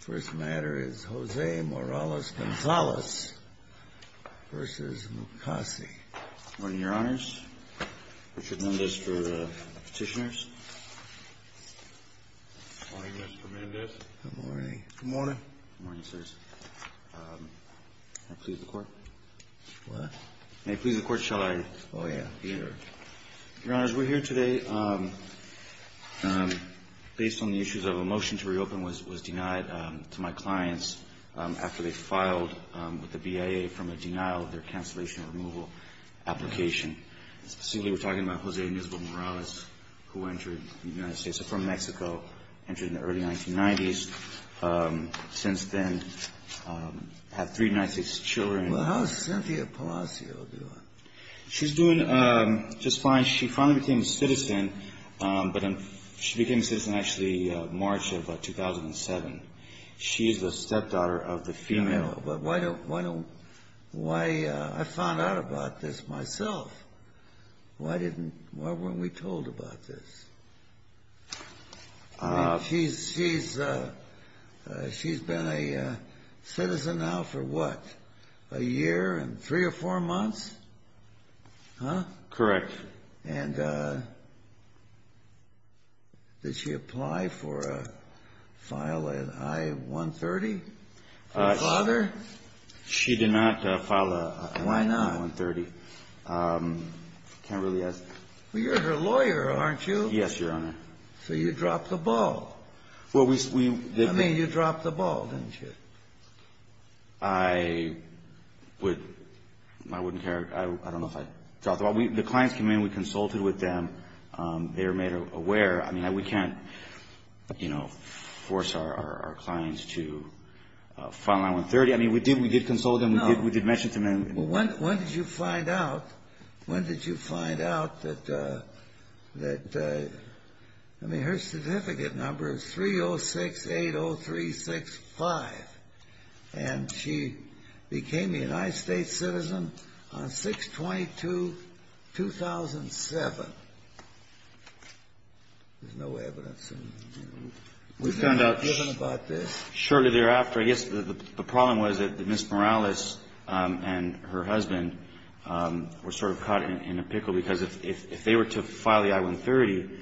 First matter is JOSE MORALES GONZALEZ v. MUKASEY. Good morning, your honors. Richard Mendez for petitioners. Good morning, Mr. Mendez. Good morning. Good morning. Good morning, sirs. May I please the court? What? May I please the court, shall I? Oh, yeah. Sure. Your honors, we're here today based on the issues of a motion to reopen was denied to my clients after they filed with the BIA from a denial of their cancellation removal application. Specifically, we're talking about Jose Ines Morales, who entered the United States from Mexico, entered in the early 1990s. Since then, had three 96 children. Well, how's Cynthia Palacio doing? She's doing just fine. She finally became a citizen, but she became a citizen, actually, in March of 2007. She is the stepdaughter of the female. But why don't, why don't, why, I found out about this myself. Why didn't, why weren't we told about this? She's, she's, she's been a citizen now for what, a year and three or four months? Huh? Correct. And did she apply for a, file an I-130 for her father? She did not file an I-130. Why not? Can't really ask. Well, you're her lawyer, aren't you? Yes, Your Honor. So you dropped the ball. Well, we, we. I mean, you dropped the ball, didn't you? I would, I wouldn't care. I don't know if I dropped the ball. The clients came in, we consulted with them. They were made aware. I mean, we can't, you know, force our clients to file an I-130. I mean, we did, we did consult them. No. We did mention to them. Well, when, when did you find out, when did you find out that, that, I mean, her certificate number is 30680365. And she became a United States citizen on 6-22-2007. There's no evidence. Was there not given about this? Well, shortly thereafter, I guess the problem was that Ms. Morales and her husband were sort of caught in a pickle, because if they were to file the I-130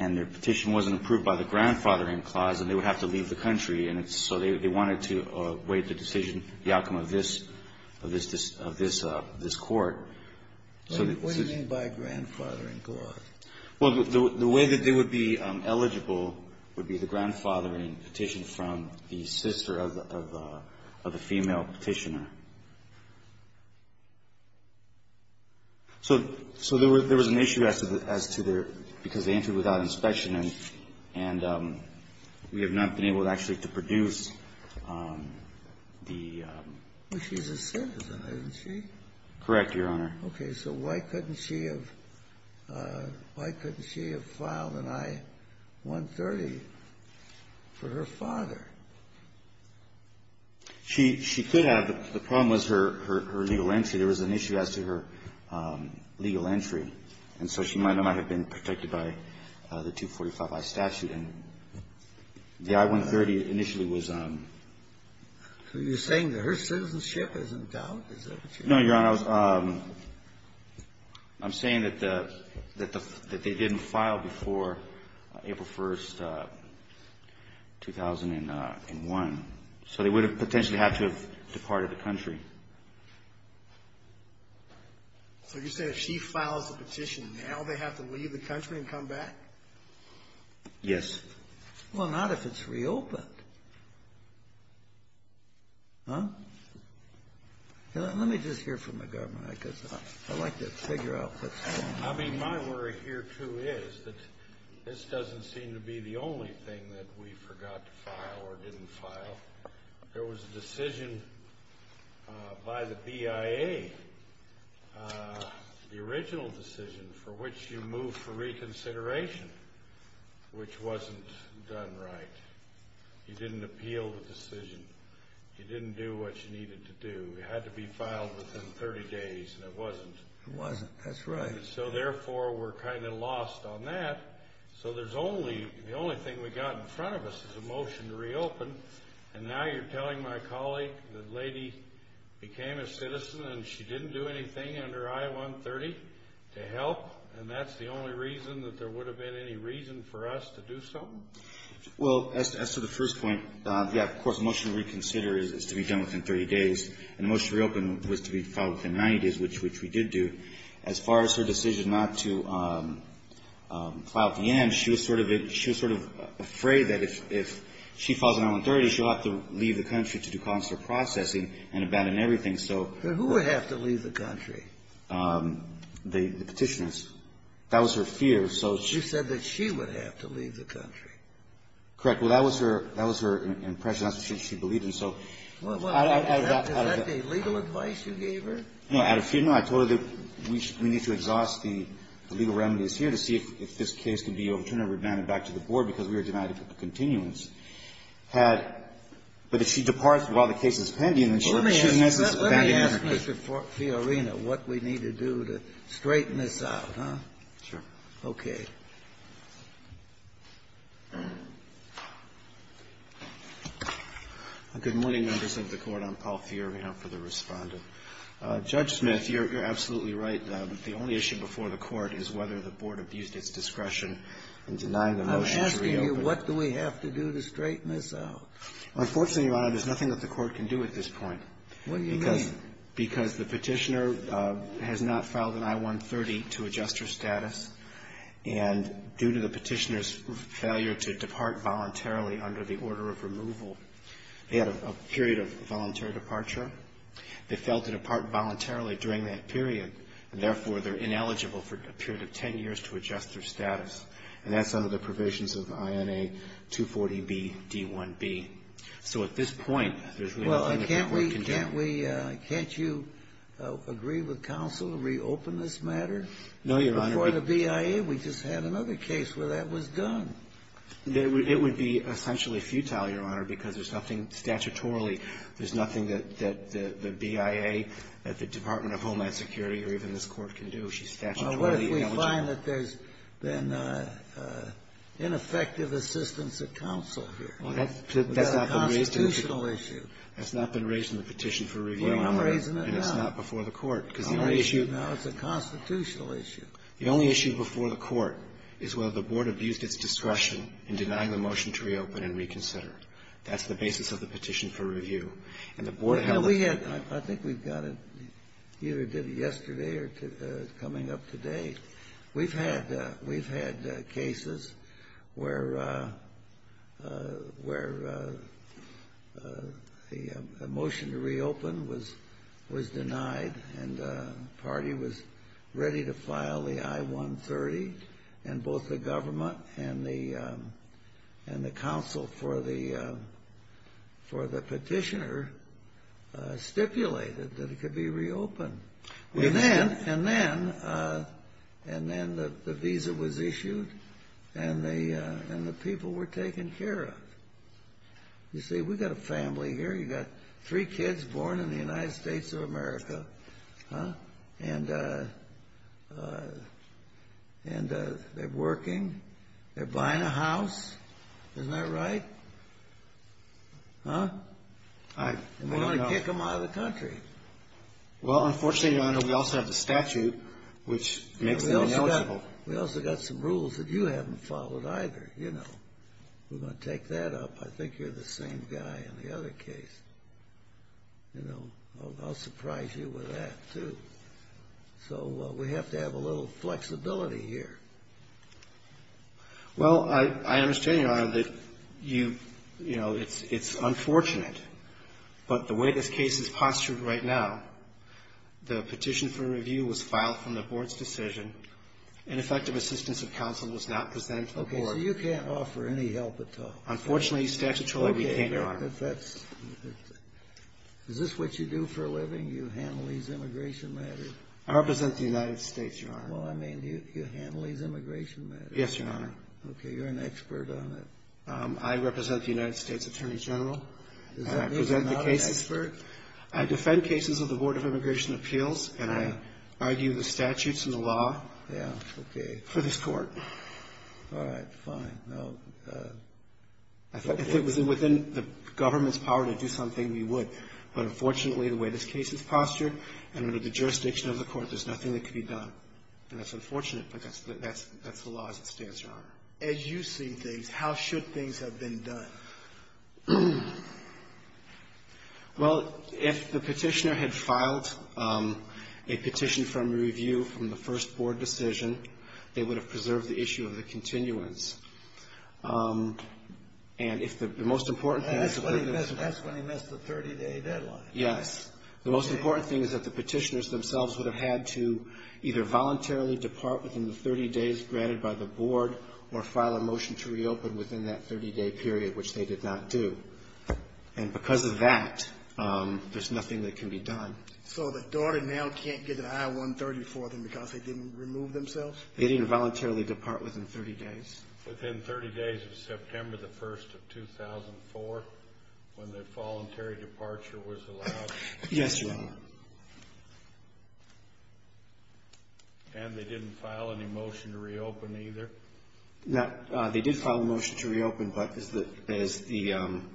and their petition wasn't approved by the grandfathering clause, then they would have to leave the country. And so they wanted to waive the decision, the outcome of this, of this, of this court. What do you mean by grandfathering clause? Well, the way that they would be eligible would be the grandfathering petition from the sister of the female petitioner. So there was an issue as to their, because they entered without inspection, and we have not been able actually to produce the ---- Well, she's a citizen, isn't she? Correct, Your Honor. Okay. So why couldn't she have filed an I-130 for her father? She could have. The problem was her legal entry. There was an issue as to her legal entry. And so she might not have been protected by the 245i statute. And the I-130 initially was ---- No, Your Honor. I'm saying that they didn't file before April 1st, 2001. So they would have potentially had to have departed the country. So you're saying if she files the petition now, they have to leave the country and come back? Yes. Well, not if it's reopened. Let me just hear from the government, because I'd like to figure out what's going on. I mean, my worry here, too, is that this doesn't seem to be the only thing that we forgot to file or didn't file. There was a decision by the BIA, the original decision, for which you move for reconsideration, which wasn't done right. You didn't appeal the decision. You didn't do what you needed to do. It had to be filed within 30 days, and it wasn't. It wasn't. That's right. So therefore, we're kind of lost on that. So the only thing we've got in front of us is a motion to reopen, and now you're telling my colleague the lady became a citizen and she didn't do anything under I-130 to help, and that's the only reason that there would have been any reason for us to do something? Well, as to the first point, yeah, of course, the motion to reconsider is to be done within 30 days, and the motion to reopen was to be filed within 90 days, which we did do. As far as her decision not to file at the end, she was sort of afraid that if she falls on I-130, she'll have to leave the country to do consular processing and abandon everything. So who would have to leave the country? The Petitioners. That was her fear. You said that she would have to leave the country. Correct. Well, that was her impression. That's what she believed, and so I got out of that. Is that the legal advice you gave her? No. I told her that we need to exhaust the legal remedies here to see if this case could be overturned or remanded back to the Board, because we were denied a continuance. But if she departs while the case is pending, then she misses abandonment. Let me ask Mr. Fiorina what we need to do to straighten this out, huh? Sure. Okay. Good morning, members of the Court. I'm Paul Fiorina for the Respondent. Judge Smith, you're absolutely right. The only issue before the Court is whether the Board abused its discretion in denying the motion to reopen. I'm asking you, what do we have to do to straighten this out? Unfortunately, Your Honor, there's nothing that the Court can do at this point. What do you mean? Because the Petitioner has not filed an I-130 to adjust her status, and due to the Petitioner's failure to depart voluntarily under the order of removal, they had a period of voluntary departure. They failed to depart voluntarily during that period, and therefore, they're ineligible for a period of 10 years to adjust their status. And that's under the provisions of INA 240BD1B. So at this point, there's really nothing that the Court can do. Can't we – can't you agree with counsel to reopen this matter? No, Your Honor. Before the BIA, we just had another case where that was done. It would be essentially futile, Your Honor, because there's nothing statutorily – there's nothing that the BIA, that the Department of Homeland Security, or even this Court can do. She's statutorily ineligible. Well, what if we find that there's been ineffective assistance of counsel here? Well, that's not been raised in the Petitioner. Well, I'm raising it now. And it's not before the Court, because the only issue – No, it's a constitutional issue. The only issue before the Court is whether the Board abused its discretion in denying the motion to reopen and reconsider. That's the basis of the Petition for Review. And the Board held that – Well, we had – I think we've got it either did it yesterday or coming up today. We've had cases where the motion to reopen was denied and the party was ready to file the I-130, and both the government and the counsel for the Petitioner stipulated that it could be reopened. And then – and then – and then the visa was issued, and the people were taken care of. You see, we've got a family here. You've got three kids born in the United States of America, and they're working, they're buying a house. Isn't that right? Huh? And we want to kick them out of the country. Well, unfortunately, Your Honor, we also have the statute, which makes them eligible. We also got some rules that you haven't followed either. You know, we're going to take that up. I think you're the same guy in the other case. You know, I'll surprise you with that, too. So we have to have a little flexibility here. Well, I understand, Your Honor, that you – you know, it's – it's unfortunate, but the way this case is postured right now, the petition for review was filed from the Board's decision. Ineffective assistance of counsel was not presented to the Board. Okay. So you can't offer any help at all? Unfortunately, the statute said we can't, Your Honor. Okay. But that's – is this what you do for a living? You handle these immigration matters? I represent the United States, Your Honor. Well, I mean, you handle these immigration matters. Yes, Your Honor. Okay. You're an expert on it. I represent the United States Attorney General. Is that – you're not an expert? I defend cases of the Board of Immigration Appeals, and I argue the statutes and the law for this court. All right. Fine. If it was within the government's power to do something, we would. But unfortunately, the way this case is postured, and under the jurisdiction of the court, there's nothing that can be done. And that's unfortunate, but that's – that's the law as it stands, Your Honor. As you see things, how should things have been done? Well, if the petitioner had filed a petition for review from the first Board decision, they would have preserved the issue of the continuance. And if the most important thing is to put it in – But that's when he missed the 30-day deadline. Yes. The most important thing is that the petitioners themselves would have had to either voluntarily depart within the 30 days granted by the Board or file a motion to reopen within that 30-day period, which they did not do. And because of that, there's nothing that can be done. So the daughter now can't get an I-130 for them because they didn't remove themselves? They didn't voluntarily depart within 30 days. Within 30 days of September the 1st of 2004, when the voluntary departure was allowed? Yes, Your Honor. And they didn't file any motion to reopen either? No. They did file a motion to reopen, but as the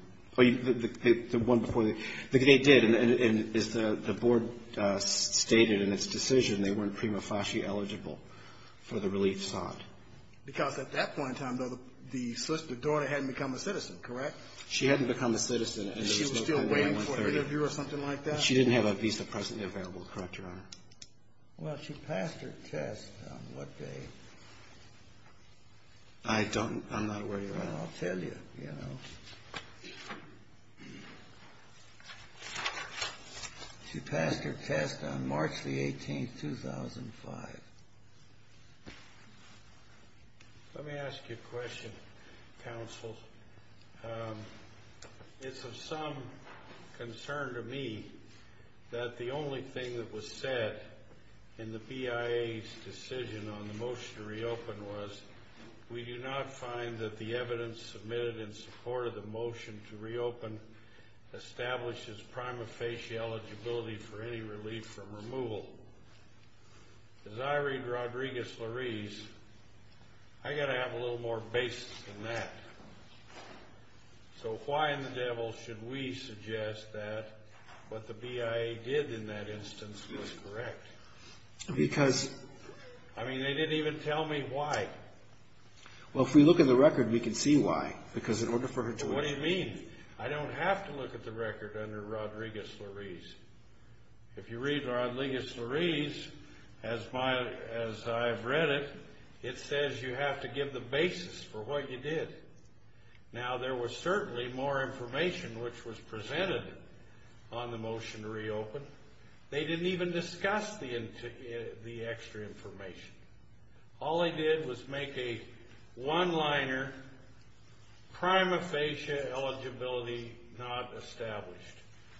– the one before the – they did, and as the Board stated in its decision, they weren't prima facie eligible for the relief sought. Because at that point in time, though, the daughter hadn't become a citizen, correct? She hadn't become a citizen until – She was still waiting for an interview or something like that? She didn't have a visa presently available, correct, Your Honor? Well, she passed her test on what day? I don't – I'm not aware, Your Honor. Well, I'll tell you, you know. She passed her test on March the 18th, 2005. Let me ask you a question, counsel. It's of some concern to me that the only thing that was said in the BIA's decision on the motion to reopen was, we do not find that the evidence submitted in support of the motion to reopen establishes prima facie eligibility for any relief from removal. As I read Rodriguez-Larise, I've got to have a little more basis than that. So why in the devil should we suggest that what the BIA did in that instance was correct? Because – I mean, they didn't even tell me why. Well, if we look at the record, we can see why. Because in order for her to – What do you mean? I don't have to look at the record under Rodriguez-Larise. If you read Rodriguez-Larise, as I've read it, it says you have to give the basis for what you did. Now, there was certainly more information which was presented on the motion to reopen. They didn't even discuss the extra information. All they did was make a one-liner, prima facie eligibility not established.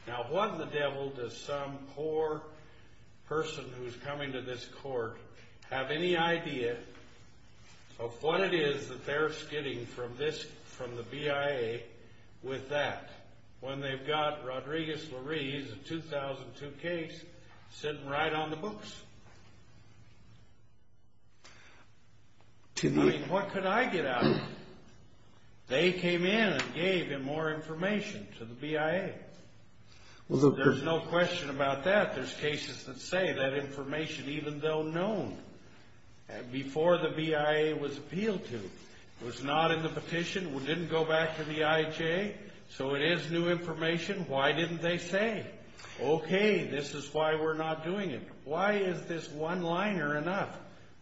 Now, what in the devil does some poor person who's coming to this court have any idea of what it is that they're skidding from the BIA with that when they've got Rodriguez-Larise, a 2002 case, sitting right on the books? I mean, what could I get out of it? They came in and gave them more information to the BIA. There's no question about that. There's cases that say that information, even though known before the BIA was appealed to, was not in the petition, didn't go back to the IHA, so it is new information. Why didn't they say, okay, this is why we're not doing it? Why is this one-liner enough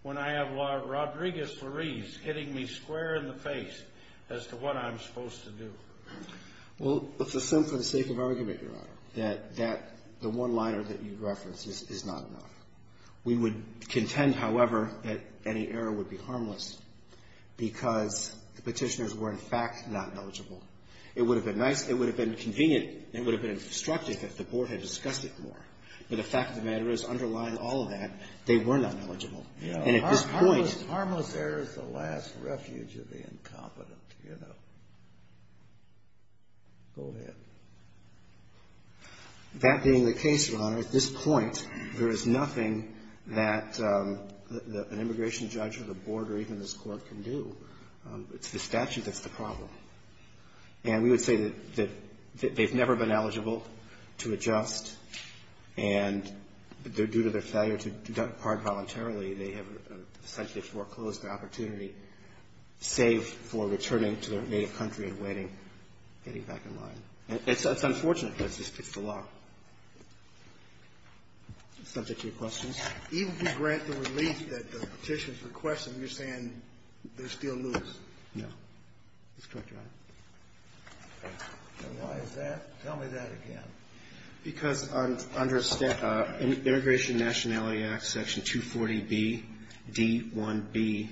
when I have Rodriguez-Larise hitting me square in the face as to what I'm supposed to do? Well, it's a simple sake of argument, Your Honor, that the one-liner that you referenced is not enough. We would contend, however, that any error would be harmless because the petitioners were, in fact, not knowledgeable. It would have been nice. It would have been convenient. It would have been instructive if the Board had discussed it more. But the fact of the matter is, underlying all of that, they were not knowledgeable. And at this point — Harmless error is the last refuge of the incompetent, you know. Go ahead. That being the case, Your Honor, at this point, there is nothing that an immigration judge or the Board or even this Court can do. It's the statute that's the problem. And we would say that they've never been eligible to adjust, and due to their failure to depart voluntarily, they have essentially foreclosed the opportunity, save for returning to their native country and waiting, getting back in line. And it's unfortunate because this fits the law. Subject to your questions? Even if you grant the relief that the petitioner's requesting, you're saying they'll still lose? No. That's correct, Your Honor. And why is that? Tell me that again. Because under Immigration Nationality Act, Section 240B, D1B,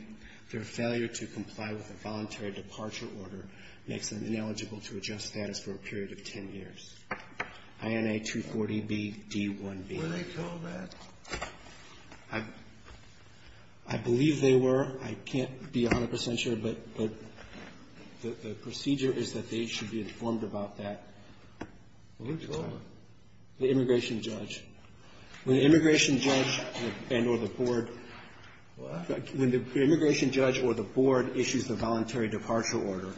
their failure to comply with a voluntary departure order makes them ineligible to adjust status for a period of 10 years. INA 240B, D1B. Were they told that? I believe they were. I can't be 100 percent sure, but the procedure is that they should be informed about that. Well, who told them? The immigration judge. When the immigration judge and or the board. What? When the immigration judge or the board issues the voluntary departure order,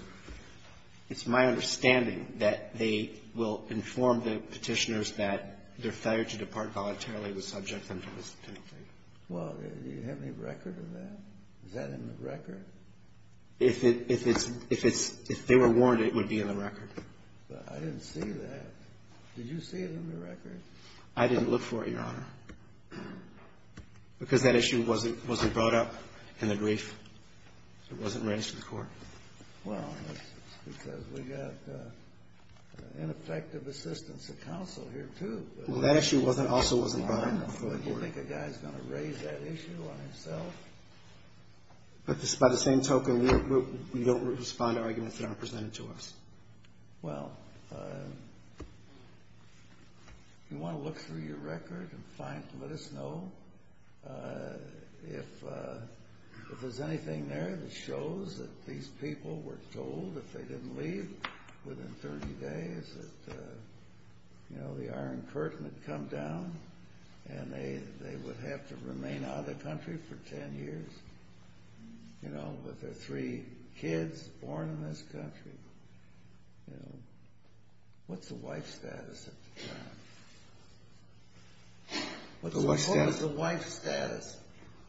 it's my understanding that they will inform the Petitioners that their failure to depart voluntarily was subject them to this penalty. Well, do you have any record of that? Is that in the record? If it's, if it's, if they were warned, it would be in the record. But I didn't see that. Did you see it in the record? I didn't look for it, Your Honor, because that issue wasn't, wasn't brought up in the brief. It wasn't raised to the court. Well, because we got ineffective assistance of counsel here, too. Well, that issue wasn't, also wasn't brought up before the board. Do you think a guy's going to raise that issue on himself? But by the same token, you don't respond to arguments that aren't presented to us. Well, if you want to look through your record and find, let us know. If, if there's anything there that shows that these people were told that they didn't leave within 30 days, that, you know, the Iron Curtain had come down, and they would have to remain out of the country for 10 years, you know, with their three kids born in this country, you know, what's the wife status at the time? What's the wife status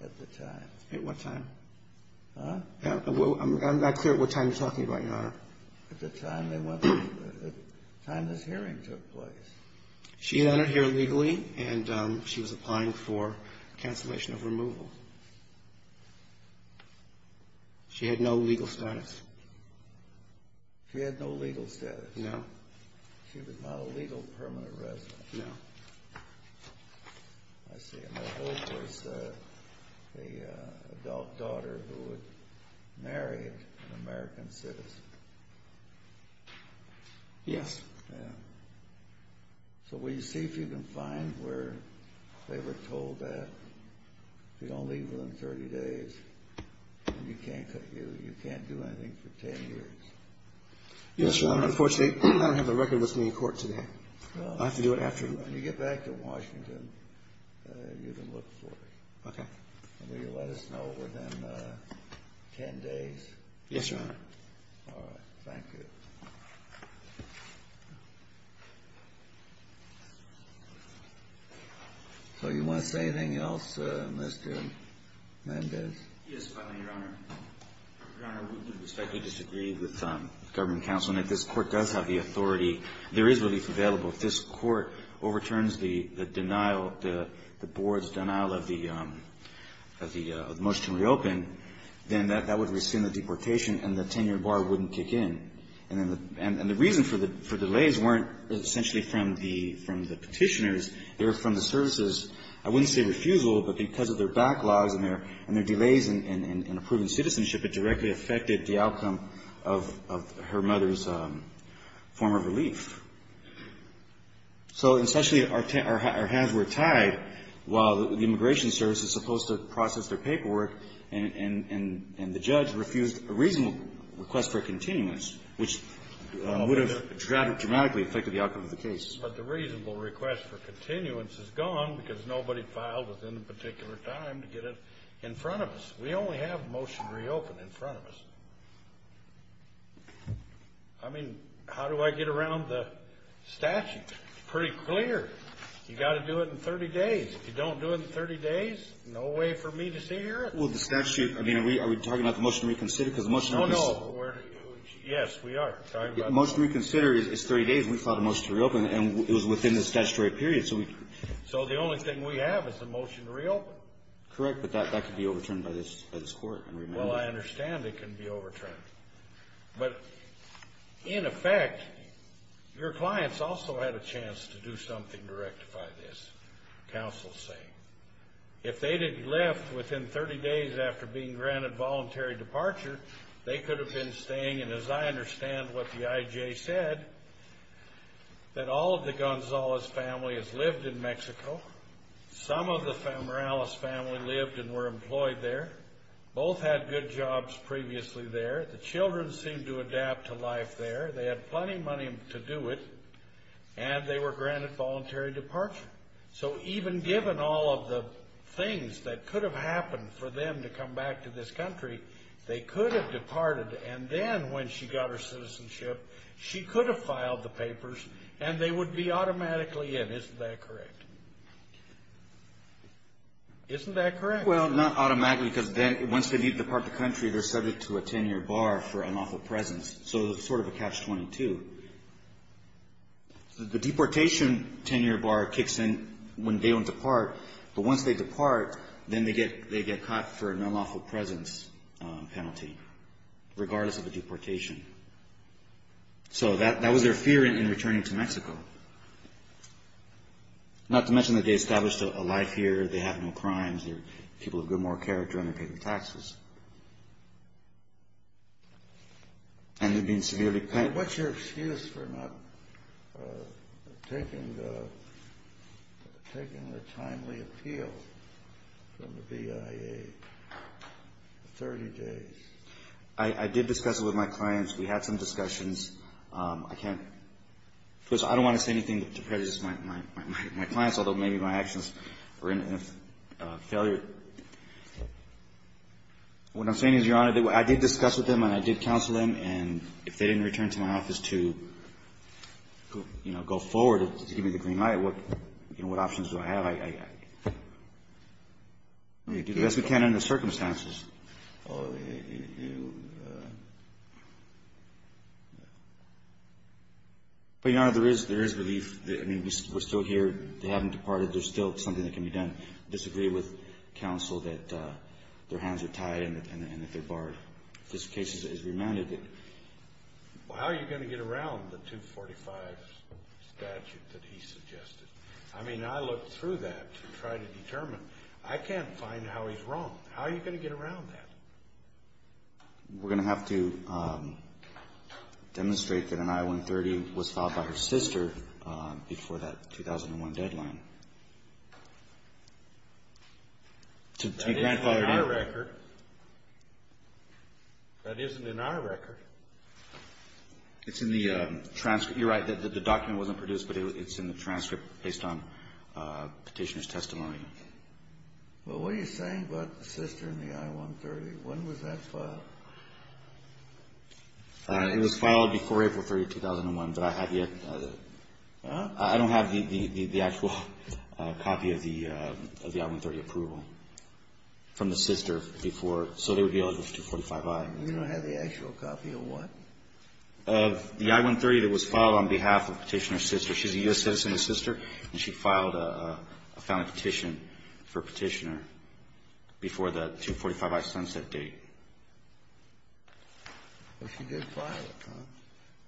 at the time? At what time? Huh? I'm not clear at what time you're talking about, Your Honor. At the time they went, at the time this hearing took place. She entered here legally, and she was applying for cancellation of removal. She had no legal status? She had no legal status. No? She was not a legal permanent resident. No. I see. And her hope was an adult daughter who would marry an American citizen. Yes. Yeah. So will you see if you can find where they were told that if you don't leave within 30 days, you can't do anything for 10 years? Yes, Your Honor. Unfortunately, I don't have the record with me in court today. I have to do it after. When you get back to Washington, you can look for it. Okay. Will you let us know within 10 days? Yes, Your Honor. All right. Thank you. So you want to say anything else, Mr. Mendez? Yes, Your Honor. Your Honor, we respectfully disagree with the government counsel in that this court does have the authority. There is relief available. If this court overturns the denial, the board's denial of the motion to reopen, then that would rescind the deportation and the 10-year bar wouldn't kick in. And the reason for delays weren't essentially from the Petitioners. They were from the services. I wouldn't say refusal, but because of their backlogs and their delays in approving relief. So, essentially, our hands were tied while the Immigration Service was supposed to process their paperwork and the judge refused a reasonable request for continuance, which would have dramatically affected the outcome of the case. But the reasonable request for continuance is gone because nobody filed within a particular time to get it in front of us. We only have motion reopened in front of us. I mean, how do I get around the statute? It's pretty clear. You've got to do it in 30 days. If you don't do it in 30 days, no way for me to see or hear it. Well, the statute, I mean, are we talking about the motion to reconsider? Oh, no. Yes, we are. The motion to reconsider is 30 days. We filed a motion to reopen, and it was within the statutory period. So the only thing we have is the motion to reopen. Correct. But that could be overturned by this court. Well, I understand it can be overturned. But, in effect, your clients also had a chance to do something to rectify this, counsel is saying. If they had left within 30 days after being granted voluntary departure, they could have been staying. And as I understand what the IJ said, that all of the Gonzalez family has lived in Mexico. Some of the Morales family lived and were employed there. Both had good jobs previously there. The children seemed to adapt to life there. They had plenty of money to do it, and they were granted voluntary departure. So even given all of the things that could have happened for them to come back to this country, they could have departed. And then when she got her citizenship, she could have filed the papers, and they would be automatically in. Isn't that correct? Isn't that correct? Well, not automatically, because then once they depart the country, they're subject to a 10-year bar for unlawful presence. So it's sort of a catch-22. The deportation 10-year bar kicks in when they don't depart. But once they depart, then they get caught for an unlawful presence penalty, regardless of the deportation. Not to mention that they established a life here. They have no crimes. They're people of good moral character, and they're paying taxes. And they're being severely penalized. What's your excuse for not taking the timely appeal from the BIA for 30 days? I did discuss it with my clients. We had some discussions. I can't, because I don't want to say anything to prejudice my clients, although maybe my actions were in a failure. What I'm saying is, Your Honor, I did discuss with them, and I did counsel them. And if they didn't return to my office to, you know, go forward to give me the green light, what options do I have? I do the best we can under the circumstances. But, Your Honor, there is belief. I mean, we're still here. They haven't departed. There's still something that can be done. I disagree with counsel that their hands are tied and that they're barred. This case is remanded. Well, how are you going to get around the 245 statute that he suggested? I mean, I looked through that to try to determine. I can't find how he's wrong. How are you going to get around that? We're going to have to demonstrate that an I-130 was filed by her sister before that 2001 deadline. That isn't in our record. That isn't in our record. It's in the transcript. You're right. The document wasn't produced, but it's in the transcript based on Petitioner's testimony. Well, what are you saying about the sister and the I-130? When was that filed? It was filed before April 30, 2001. But I have yet to do that. I don't have the actual copy of the I-130 approval from the sister before. So there would be only the 245I. You don't have the actual copy of what? Of the I-130 that was filed on behalf of Petitioner's sister. She's a U.S. citizen's sister, and she filed a founding petition for Petitioner before the 245I sunset date. Well, she did file it, huh?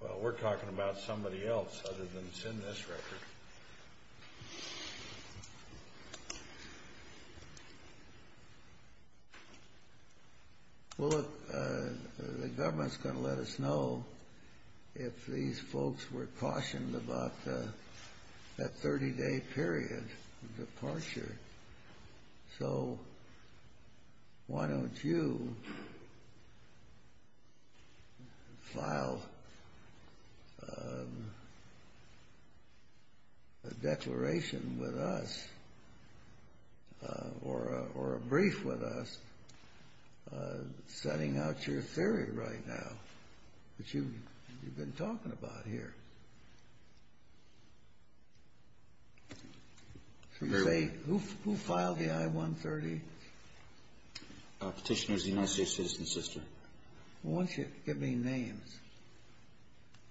Well, we're talking about somebody else other than that's in this record. Well, look, the government's going to let us know if these folks were cautioned about that 30-day period of departure. So why don't you file a declaration with us or a brief with us setting out your theory right now that you've been talking about here? Who filed the I-130? Petitioner's U.S. citizen's sister. Why don't you give me names?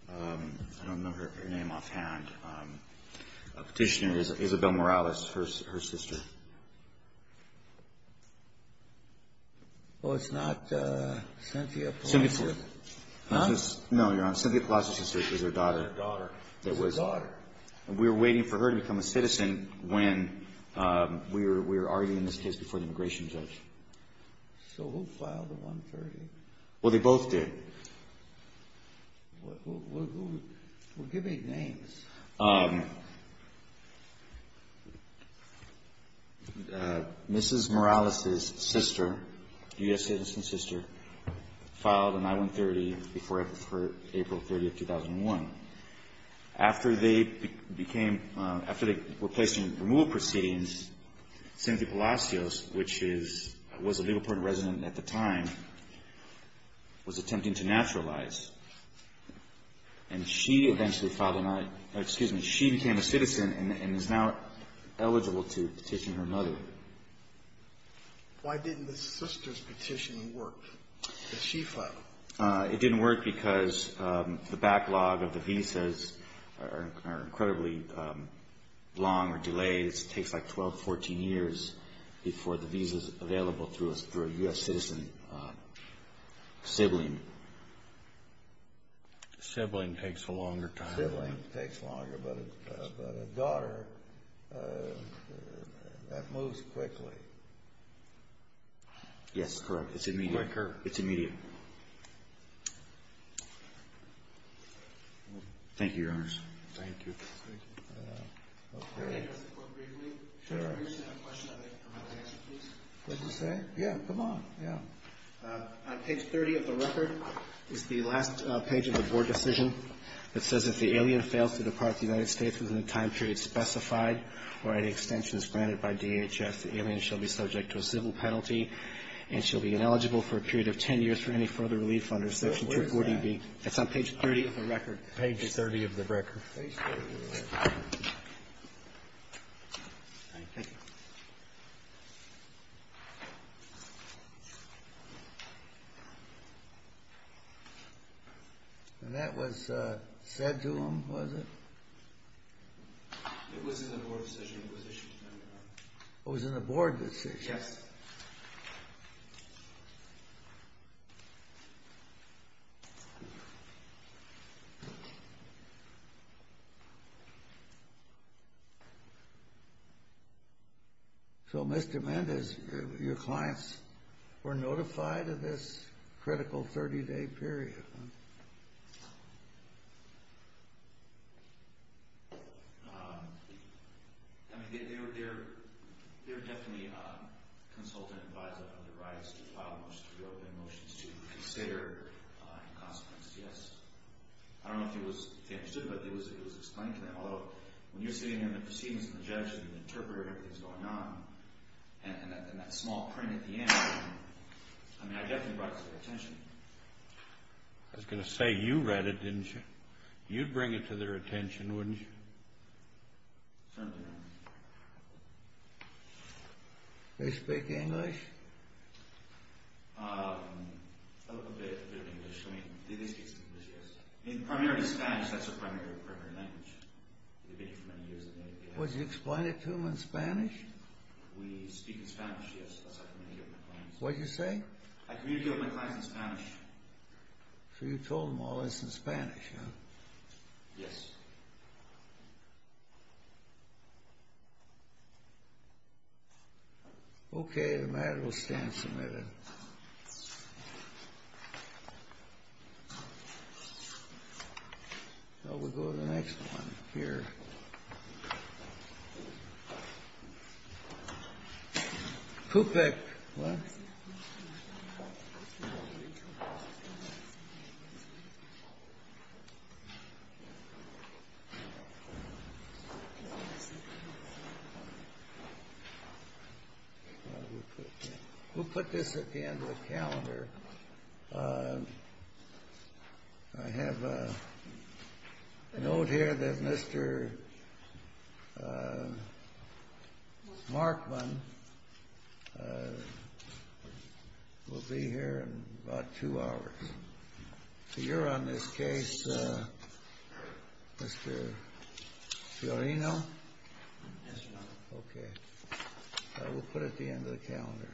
I don't know her name offhand. Petitioner is Isabel Morales, her sister. Oh, it's not Cynthia Palacio. Huh? No, you're wrong. Cynthia Palacio's sister is her daughter. Daughter. She's a daughter. And we were waiting for her to become a citizen when we were already, in this case, before the immigration judge. So who filed the I-130? Well, they both did. Well, give me names. Mrs. Morales's sister, U.S. citizen's sister, filed an I-130 before April 30th, 2001. After they were placed in removal proceedings, Cynthia Palacios, which was a Liverpool resident at the time, was attempting to naturalize. And she eventually filed an I, excuse me, she became a citizen and is now eligible to petition her mother. Why didn't the sister's petition work that she filed? It didn't work because the backlog of the visas are incredibly long or delayed. It takes like 12, 14 years before the visa's available through a U.S. citizen sibling. Sibling takes a longer time. Sibling takes longer, but a daughter, that moves quickly. Yes, correct. It's immediate. Quicker. It's immediate. Thank you, Your Honors. Thank you. Thank you. Okay. Your Honor, if it's appropriate for me to introduce that question, I'd like to come up and answer it, please. What'd you say? Yeah, come on. Yeah. On page 30 of the record is the last page of the board decision that says, if the alien fails to depart the United States within the time period specified or any extensions granted by DHS, the alien shall be subject to a civil penalty and shall be ineligible for a period of 10 years for any further relief under Section 240B. Where is that? It's on page 30 of the record. Page 30 of the record. Page 30 of the record. Thank you. And that was said to him, was it? It was in the board decision. It was issued to him, Your Honor. It was in the board decision? Yes. Thank you. So, Mr. Mendez, your clients were notified of this critical 30-day period, huh? I mean, they were definitely consulted and advised of other rights to file motions to be opened, motions to consider, and, in consequence, yes. I don't know if it was understood, but it was explained to them. Although, when you're sitting in the proceedings and the judge and the interpreter and everything's going on, and that small print at the end, I mean, I definitely brought it to their attention. I was going to say you read it, didn't you? You'd bring it to their attention, wouldn't you? Certainly, Your Honor. They speak English? A little bit of English. I mean, they speak some English, yes. I mean, primarily Spanish. That's their primary language. They've been here for many years. Was it explained to them in Spanish? We speak in Spanish, yes. What did you say? I communicate with my clients in Spanish. So you told them all this in Spanish, huh? Yes. Okay. The matter will stand submitted. Shall we go to the next one here? CUPEC. What? CUPEC. We'll put this at the end of the calendar. I have a note here that Mr. Markman will be here in about two hours. So you're on this case, Mr. Fiorino? Yes, Your Honor. Okay. We'll put it at the end of the calendar. Thank you.